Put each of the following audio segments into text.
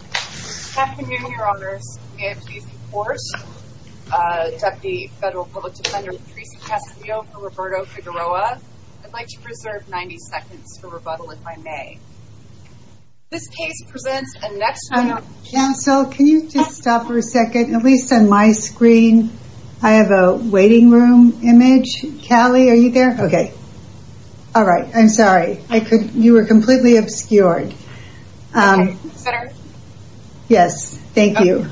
Good afternoon, your honors. May I please report? Deputy Federal Public Defender Patrice Castillo for Roberto Figueroa. I'd like to preserve 90 seconds for rebuttal if I may. This case presents a next- Counsel, can you just stop for a second? At least on my screen, I have a waiting room image. Callie, are you there? Okay. All right. I'm sorry. You were completely obscured. Senator? Yes. Thank you.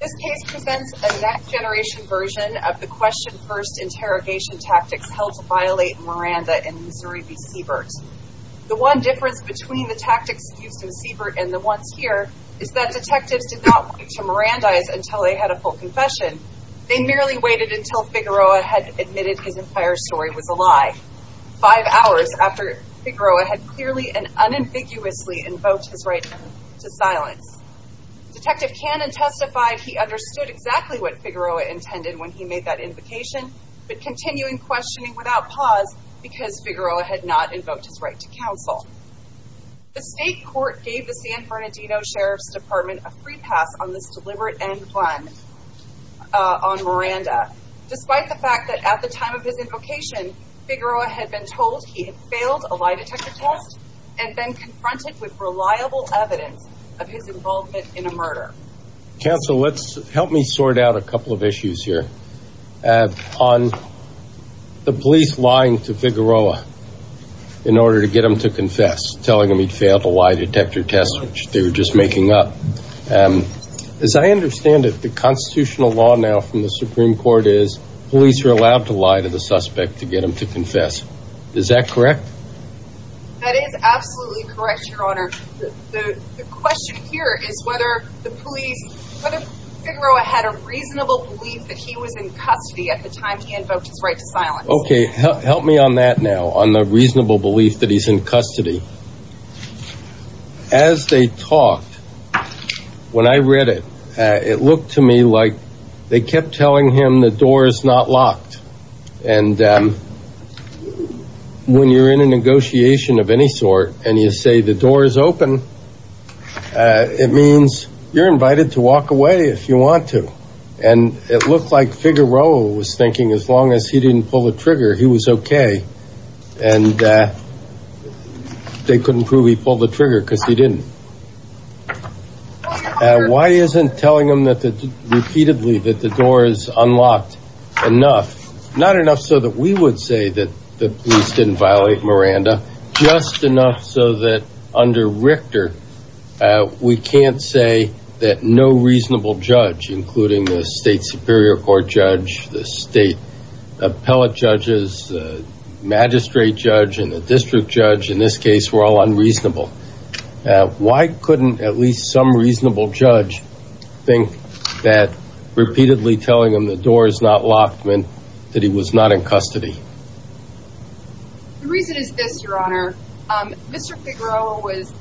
This case presents a next-generation version of the question-first interrogation tactics held to violate Miranda in Missouri v. Siebert. The one difference between the tactics used in Siebert and the ones here is that detectives did not speak to Mirandais until they had a full confession. They merely waited until Figueroa had admitted his entire story was a lie. Five hours after Figueroa had clearly and unambiguously invoked his right to silence. Detective Cannon testified he understood exactly what Figueroa intended when he made that invocation, but continued questioning without pause because Figueroa had not invoked his right to counsel. The state court gave the San Bernardino Sheriff's Department a free pass on this deliberate end plan on Miranda. Despite the fact that at the time of his invocation, Figueroa had been told he had failed a lie detector test and been confronted with reliable evidence of his involvement in a murder. Counsel, help me sort out a couple of issues here. On the police lying to Figueroa in order to get him to confess, telling him he'd failed a lie detector test, which they were just making up. As I understand it, the constitutional law now from the Supreme Court is police are allowed to lie to the suspect to get him to confess. Is that correct? That is absolutely correct, Your Honor. The question here is whether the police, whether Figueroa had a reasonable belief that he was in custody at the time he invoked his right to silence. Okay, help me on that now, on the reasonable belief that he's in custody. As they talked, when I read it, it looked to me like they kept telling him the door is not locked. And when you're in a negotiation of any sort and you say the door is open, it means you're invited to walk away if you want to. And it looked like Figueroa was thinking as long as he didn't pull the trigger, he was okay. And they couldn't prove he pulled the trigger because he didn't. Why isn't telling him repeatedly that the door is unlocked enough, not enough so that we would say that the police didn't violate Miranda, just enough so that under Richter, we can't say that no reasonable judge, including the state superior court judge, the state appellate judges, the magistrate judge, and the district judge in this case were all unreasonable. Why couldn't at least some reasonable judge think that repeatedly telling him the door is not locked meant that he was not in custody? The reason is this, Your Honor. Mr. Figueroa was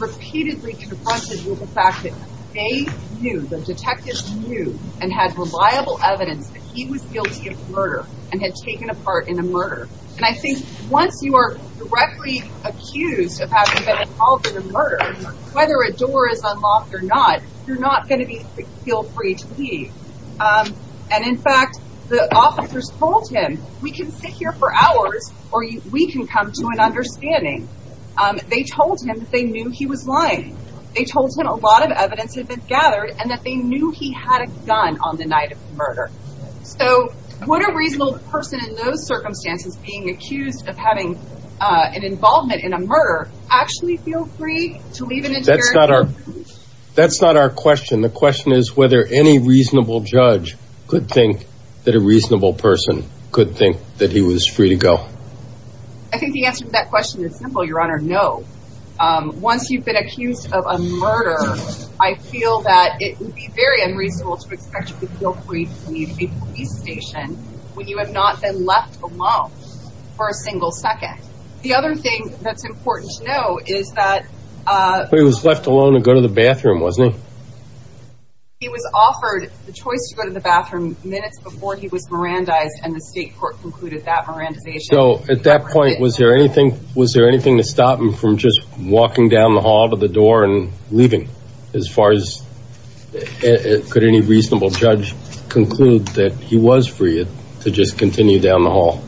repeatedly confronted with the fact that they knew, the detectives knew and had reliable evidence that he was guilty of murder and had taken a part in a murder. And I think once you are directly accused of having been involved in a murder, whether a door is unlocked or not, you're not going to feel free to leave. And in fact, the officers told him, we can sit here for hours or we can come to an understanding. They told him that they knew he was lying. They told him a lot of evidence had been gathered and that they knew he had a gun on the night of the murder. So would a reasonable person in those circumstances, being accused of having an involvement in a murder, actually feel free to leave an interior door? That's not our question. The question is whether any reasonable judge could think that a reasonable person could think that he was free to go. I think the answer to that question is simple, Your Honor, no. Once you've been accused of a murder, I feel that it would be very unreasonable to expect you to feel free to leave a police station when you have not been left alone for a single second. The other thing that's important to know is that... But he was left alone to go to the bathroom, wasn't he? He was offered the choice to go to the bathroom minutes before he was Mirandized and the state court concluded that Mirandization... So at that point, was there anything to stop him from just walking down the hall to the door and leaving? As far as... Could any reasonable judge conclude that he was free to just continue down the hall?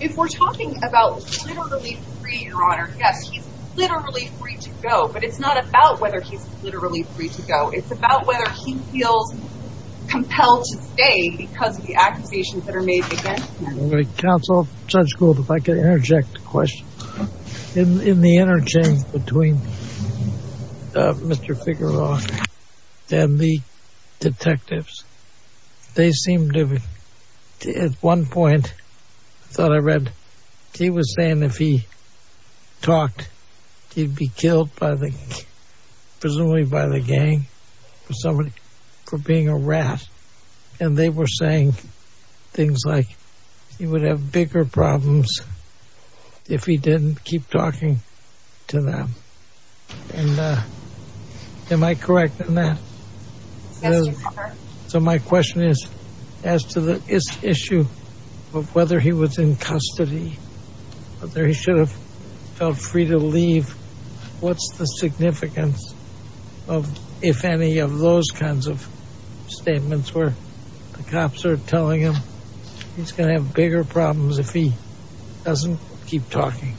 If we're talking about literally free, Your Honor, yes, he's literally free to go, but it's not about whether he's literally free to go. It's about whether he feels compelled to stay because of the accusations that are made against him. Counsel, Judge Gould, if I could interject a question. In the interchange between Mr. Figueroa and the detectives, they seemed to... At one point, I thought I read, he was saying if he talked, he'd be killed by the... Presumably by the gang or somebody for being a rat. And they were saying things like he would have bigger problems if he didn't keep talking to them. And am I correct on that? Yes, Your Honor. So my question is, as to the issue of whether he was in custody, whether he should have felt free to leave, what's the significance of if any of those kinds of statements where the cops are telling him he's going to have bigger problems if he doesn't keep talking?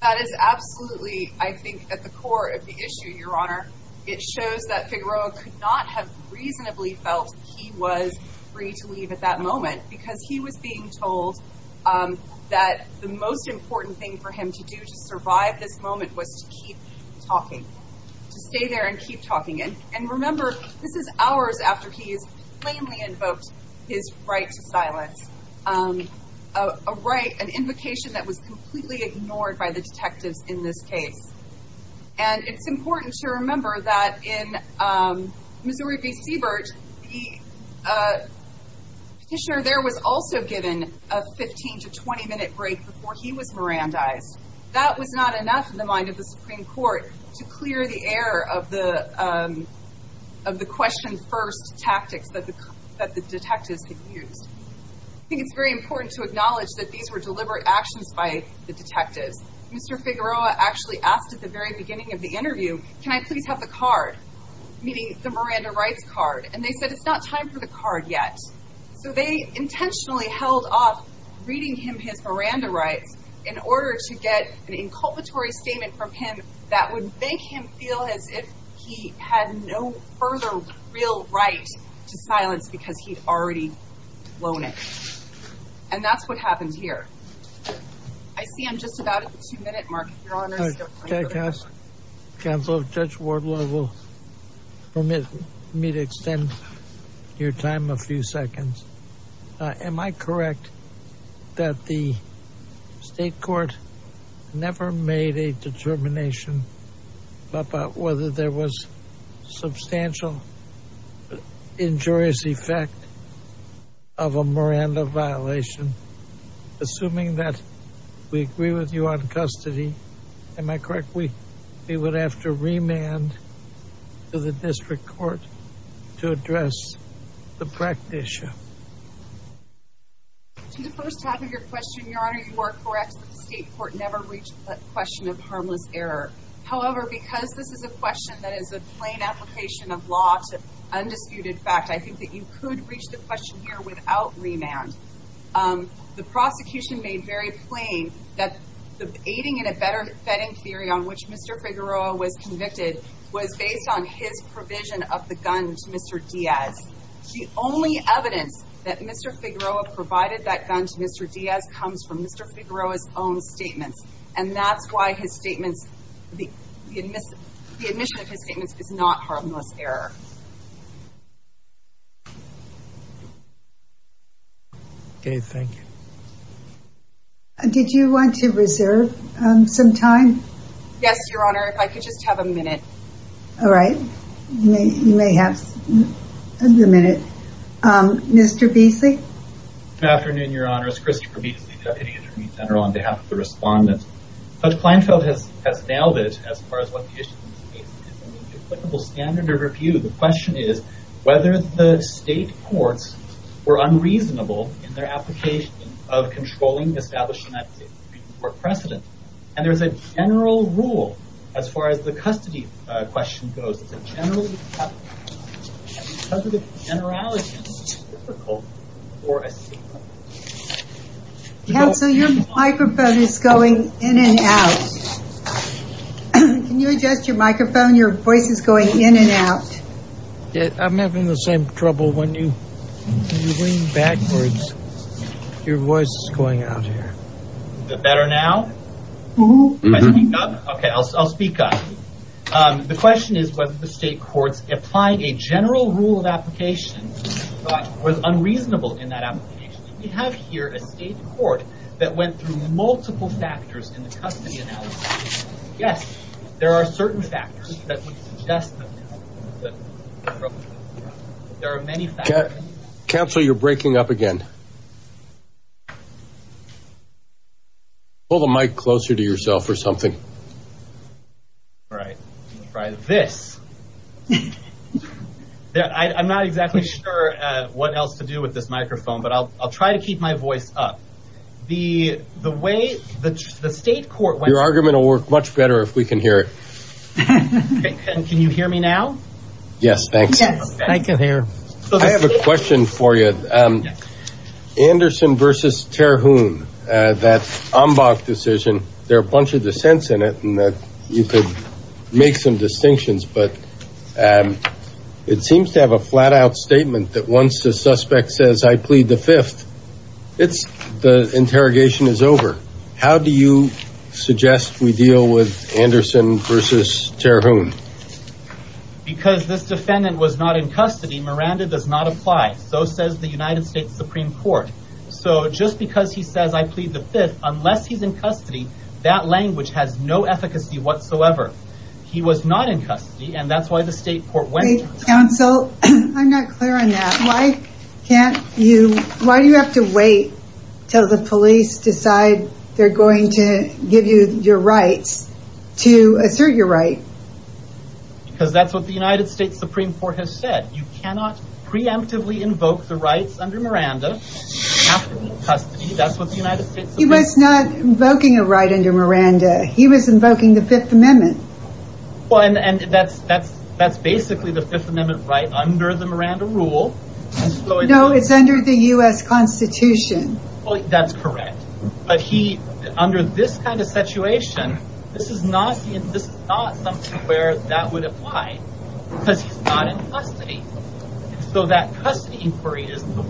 That is absolutely, I think, at the core of the issue, Your Honor. It shows that Figueroa could not have reasonably felt he was free to leave at that moment because he was being told that the most important thing for him to do to survive this moment was to keep talking, to stay there and keep talking. And remember, this is hours after he has plainly invoked his right to silence, an invocation that was completely ignored by the detectives in this case. And it's important to remember that in Missouri v. Siebert, the petitioner there was also given a 15- to 20-minute break before he was Mirandized. That was not enough in the mind of the Supreme Court to clear the air of the question-first tactics that the detectives had used. I think it's very important to acknowledge that these were deliberate actions by the detectives. Mr. Figueroa actually asked at the very beginning of the interview, can I please have the card? Meaning the Miranda Rights card. And they said it's not time for the card yet. So they intentionally held off reading him his Miranda Rights in order to get an inculpatory statement from him that would make him feel as if he had no further real right to silence because he'd already blown it. And that's what happened here. I see I'm just about at the two-minute mark. Counsel, Judge Wardlaw will permit me to extend your time a few seconds. Am I correct that the state court never made a determination about whether there was substantial injurious effect of a Miranda violation, assuming that we agree with you on custody? Am I correct we would have to remand to the district court to address the practice? To the first half of your question, Your Honor, you are correct. The state court never reached the question of harmless error. However, because this is a question that is a plain application of law to undisputed fact, I think that you could reach the question here without remand. The prosecution made very plain that the aiding and abetting theory on which Mr. Figueroa was convicted was based on his provision of the gun to Mr. Diaz. The only evidence that Mr. Figueroa provided that gun to Mr. Diaz comes from Mr. Figueroa's own statements, and that's why the admission of his statements is not harmless error. Okay, thank you. Did you want to reserve some time? Yes, Your Honor, if I could just have a minute. All right, you may have the minute. Mr. Beasley? Good afternoon, Your Honor. It's Christopher Beasley, Deputy Attorney General, on behalf of the respondents. Judge Kleinfeld has nailed it as far as what the issue in this case is. In the applicable standard of review, the question is whether the state courts were unreasonable in their application of controlling establishing that pre-court precedent. And there's a general rule as far as the custody question goes. It's a general rule. Because of the generality, it's difficult for a state court. Counsel, your microphone is going in and out. Can you adjust your microphone? Your voice is going in and out. I'm having the same trouble when you lean backwards. Your voice is going out here. Is it better now? Can I speak up? Okay, I'll speak up. The question is whether the state courts applied a general rule of application but was unreasonable in that application. We have here a state court that went through multiple factors in the custody analysis. Yes, there are certain factors that would suggest that. There are many factors. Counsel, you're breaking up again. Pull the mic closer to yourself or something. All right. Try this. I'm not exactly sure what else to do with this microphone, but I'll try to keep my voice up. The way the state court went through. Your argument will work much better if we can hear it. Can you hear me now? Yes, thanks. Yes, I can hear. I have a question for you. Anderson v. Terhune, that Ambach decision, there are a bunch of dissents in it and you could make some distinctions, but it seems to have a flat-out statement that once the suspect says, I plead the fifth, the interrogation is over. How do you suggest we deal with Anderson v. Terhune? Because this defendant was not in custody, Miranda does not apply. So says the United States Supreme Court. So just because he says, I plead the fifth, unless he's in custody, that language has no efficacy whatsoever. He was not in custody, and that's why the state court went through. Counsel, I'm not clear on that. Why do you have to wait till the police decide they're going to give you your rights to assert your right? Because that's what the United States Supreme Court has said. You cannot preemptively invoke the rights under Miranda after custody. That's what the United States Supreme Court has said. He was not invoking a right under Miranda. He was invoking the Fifth Amendment. That's basically the Fifth Amendment right under the Miranda rule. No, it's under the U.S. Constitution. That's correct. But under this kind of situation, this is not something where that would apply because he's not in custody. So that custody inquiry is the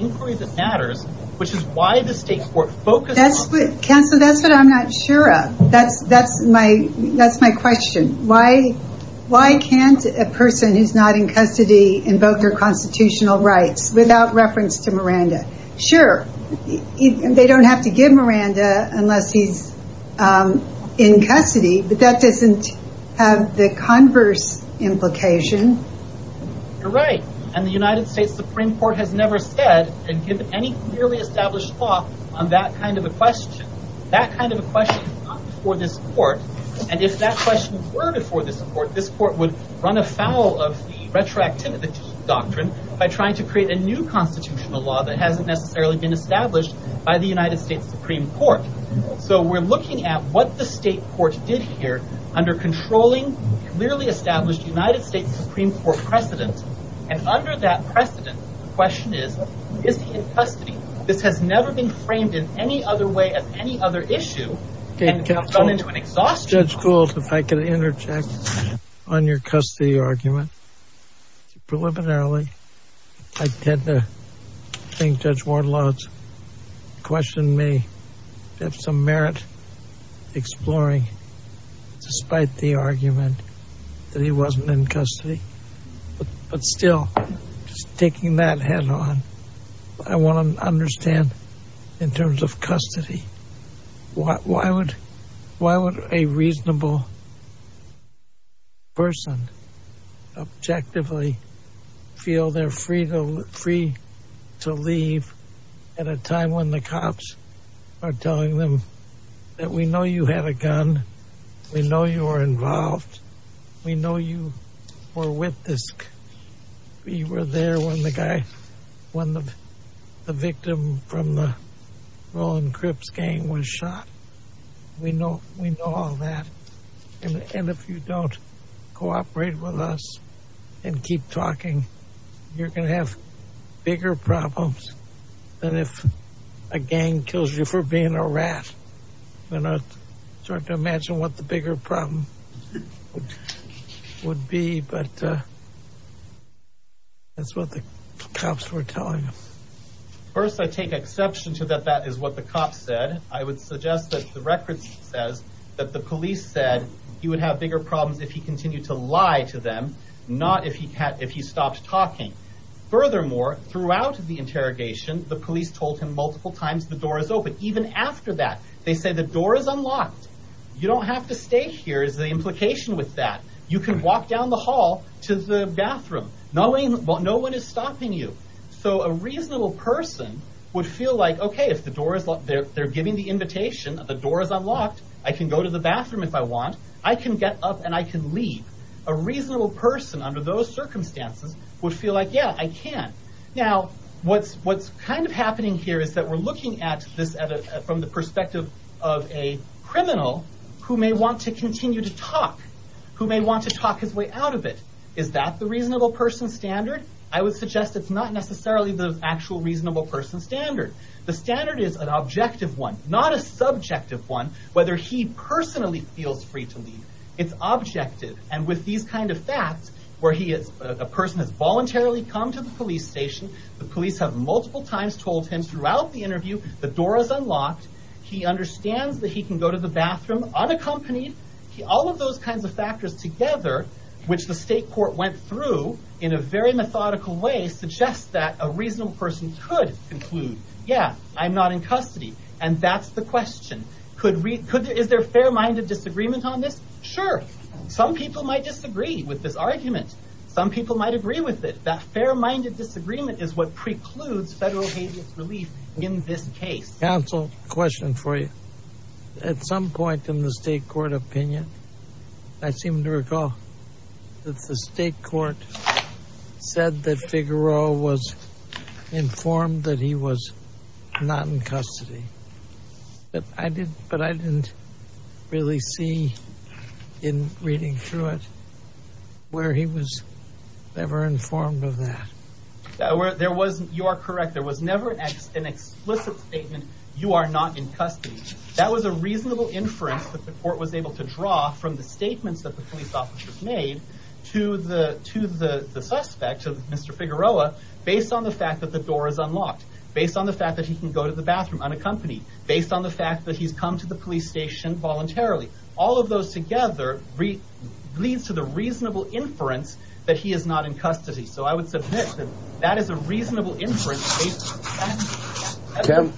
inquiry that matters, which is why the state court focused on... Counsel, that's what I'm not sure of. That's my question. Why can't a person who's not in custody invoke their constitutional rights without reference to Miranda? Sure, they don't have to give Miranda unless he's in custody, but that doesn't have the converse implication. You're right. And the United States Supreme Court has never said and given any clearly established law on that kind of a question. That kind of a question is not before this court, and if that question were before this court, this court would run afoul of the retroactivity doctrine by trying to create a new constitutional law that hasn't necessarily been established by the United States Supreme Court. So we're looking at what the state court did here under controlling clearly established United States Supreme Court precedent and under that precedent, the question is, is he in custody? This has never been framed in any other way as any other issue and it's gone into an exhaustion. Judge Gould, if I could interject on your custody argument. Preliminarily, I tend to think Judge Ward-Lotz questioned me. You have some merit exploring despite the argument that he wasn't in custody. But still, just taking that head on, I want to understand in terms of custody, why would a reasonable person objectively feel they're free to leave at a time when the cops are telling them that we know you had a gun, we know you were involved, we know you were with this, you were there when the guy, when the victim from the Roland Cripps gang was shot. We know all that. And if you don't cooperate with us and keep talking, you're going to have bigger problems than if a gang kills you for being a rat. I'm starting to imagine what the bigger problem would be, but that's what the cops were telling us. First, I take exception to that that is what the cops said. I would suggest that the record says that the police said he would have bigger problems if he continued to lie to them, not if he stopped talking. Furthermore, throughout the interrogation, the police told him multiple times the door is open, even after that. They said, the door is unlocked. You don't have to stay here is the implication with that. You can walk down the hall to the bathroom. No one is stopping you. So a reasonable person would feel like, okay, they're giving the invitation, the door is unlocked, I can go to the bathroom if I want, I can get up and I can leave. A reasonable person under those circumstances would feel like, yeah, I can. Now, what's happening here is that we're looking at this from the perspective of a criminal who may want to continue to talk, who may want to talk his way out of it. Is that the reasonable person standard? I would suggest it's not necessarily the actual reasonable person standard. The standard is an objective one, not a subjective one, whether he personally feels free to leave. It's objective, and with these kind of facts, where a person has voluntarily come to the police station, the police have multiple times told him throughout the interview, the door is unlocked, he understands that he can go to the bathroom unaccompanied. All of those kinds of factors together, which the state court went through in a very methodical way, suggests that a reasonable person could conclude, yeah, I'm not in custody, and that's the question. Is there fair-minded disagreement on this? Sure. Some people might disagree with this argument. Some people might agree with it. That fair-minded disagreement is what precludes federal habeas relief in this case. Counsel, question for you. At some point in the state court opinion, I seem to recall that the state court said that Figueroa was informed that he was not in custody. But I didn't really see in reading through it where he was ever informed of that. You are correct. There was never an explicit statement, you are not in custody. That was a reasonable inference that the court was able to draw from the statements that the police officers made to the suspect, Mr. Figueroa, based on the fact that the door is unlocked, based on the fact that he can go to the bathroom unaccompanied, based on the fact that he's come to the police station voluntarily. All of those together leads to the reasonable inference that he is not in custody. So I would submit that that is a reasonable inference.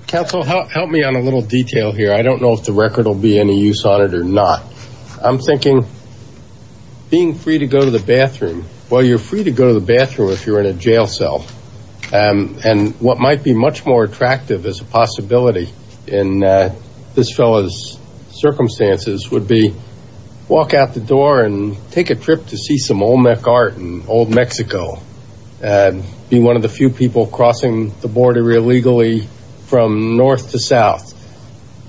Counsel, help me on a little detail here. I don't know if the record will be any use on it or not. I'm thinking being free to go to the bathroom. Well, you're free to go to the bathroom if you're in a jail cell. And what might be much more attractive as a possibility in this fellow's circumstances would be walk out the door and take a trip to see some Olmec art in old Mexico, be one of the few people crossing the border illegally from north to south.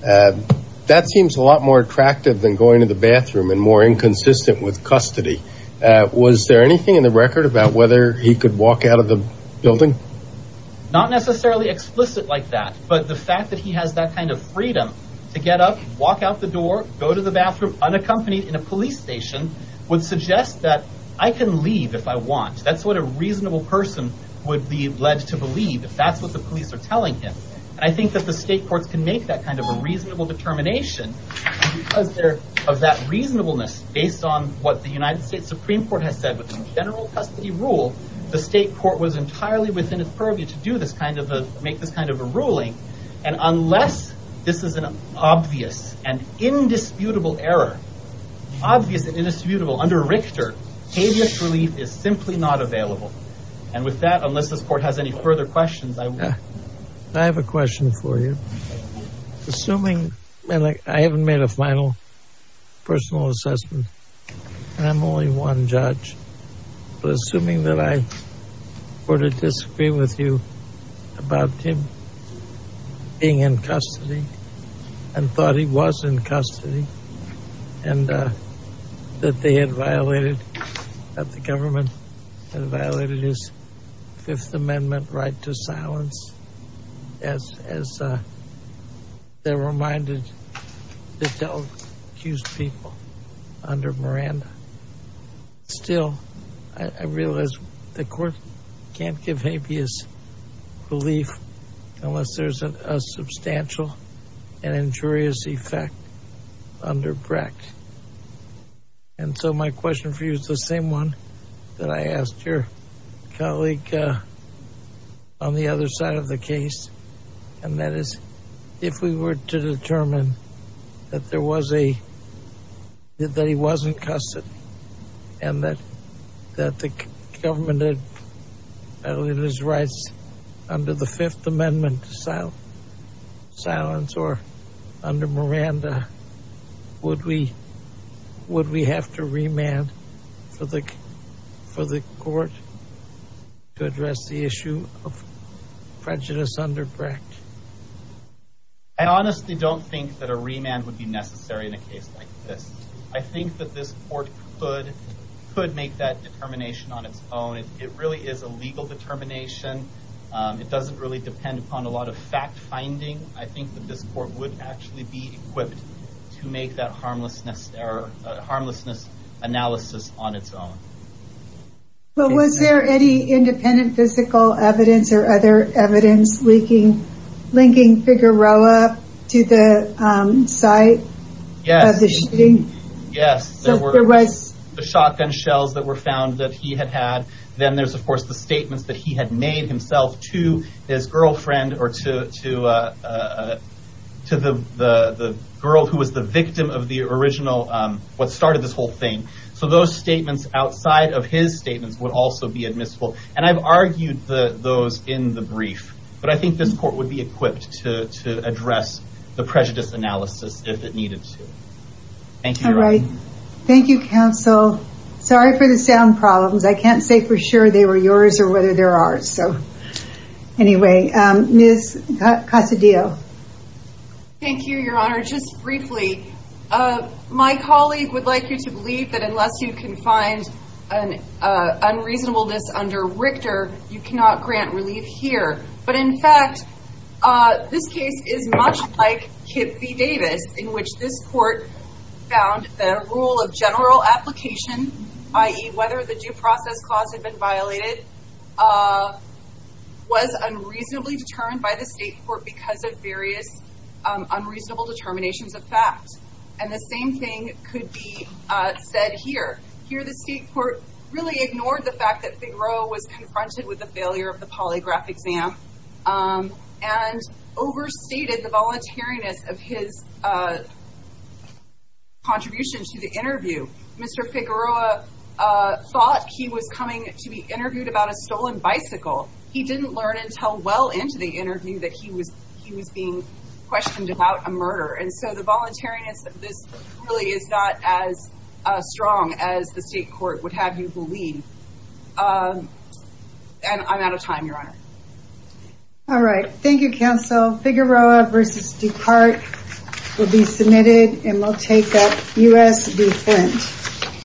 That seems a lot more attractive than going to the bathroom and more inconsistent with custody. Was there anything in the record about whether he could walk out of the building? Not necessarily explicit like that, but the fact that he has that kind of freedom to get up, walk out the door, go to the bathroom unaccompanied in a police station would suggest that I can leave if I want. That's what a reasonable person would be led to believe if that's what the police are telling him. And I think that the state courts can make that kind of a reasonable determination of that reasonableness based on what the United States Supreme Court has said. With the general custody rule, the state court was entirely within its purview to make this kind of a ruling. And unless this is an obvious and indisputable error, obvious and indisputable under Richter, habeas relief is simply not available. And with that, unless this court has any further questions, I will. I have a question for you. Assuming, and I haven't made a final personal assessment, and I'm only one judge, but assuming that I were to disagree with you about him being in custody and thought he was in custody and that they had violated, that the government had violated his Fifth Amendment right to silence as they're reminded to tell accused people under Miranda. Still, I realize the court can't give habeas relief unless there's a substantial and injurious effect under Brecht. And so my question for you is the same one that I asked your colleague on the other side of the case. And that is, if we were to determine that there was a, that he was in custody and that the government had violated his rights under the Fifth Amendment to silence or under Miranda, would we have to remand for the court to address the issue of prejudice under Brecht? I honestly don't think that a remand would be necessary in a case like this. I think that this court could make that determination on its own. It really is a legal determination. It doesn't really depend upon a lot of fact-finding. I think that this court would actually be equipped to make that harmlessness analysis on its own. But was there any independent physical evidence or other evidence linking Figueroa to the site of the shooting? Yes, there were the shotgun shells that were found that he had had. Then there's, of course, the statements that he had made himself to his girlfriend or to the girl who was the victim of the original, what started this whole thing. So those statements outside of his statements would also be admissible. And I've argued those in the brief. But I think this court would be equipped to address the prejudice analysis if it needed to. Thank you. Thank you, counsel. Sorry for the sound problems. I can't say for sure they were yours or whether they're ours. Anyway, Ms. Casadillo. Thank you, Your Honor. Just briefly, my colleague would like you to believe that unless you can find an unreasonableness under Richter, you cannot grant relief here. But, in fact, this case is much like Kip v. Davis, in which this court found the rule of general application, i.e., whether the due process clause had been violated, was unreasonably determined by the state court because of various unreasonable determinations of fact. And the same thing could be said here. Here, the state court really ignored the fact that Figueroa was confronted with the failure of the polygraph exam Mr. Figueroa thought he was coming to be interviewed about a stolen bicycle. He didn't learn until well into the interview that he was being questioned about a murder. And so the voluntariness of this really is not as strong as the state court would have you believe. And I'm out of time, Your Honor. All right. Thank you, counsel. Figueroa v. DuPart will be submitted, and we'll take up U.S. v. Flint.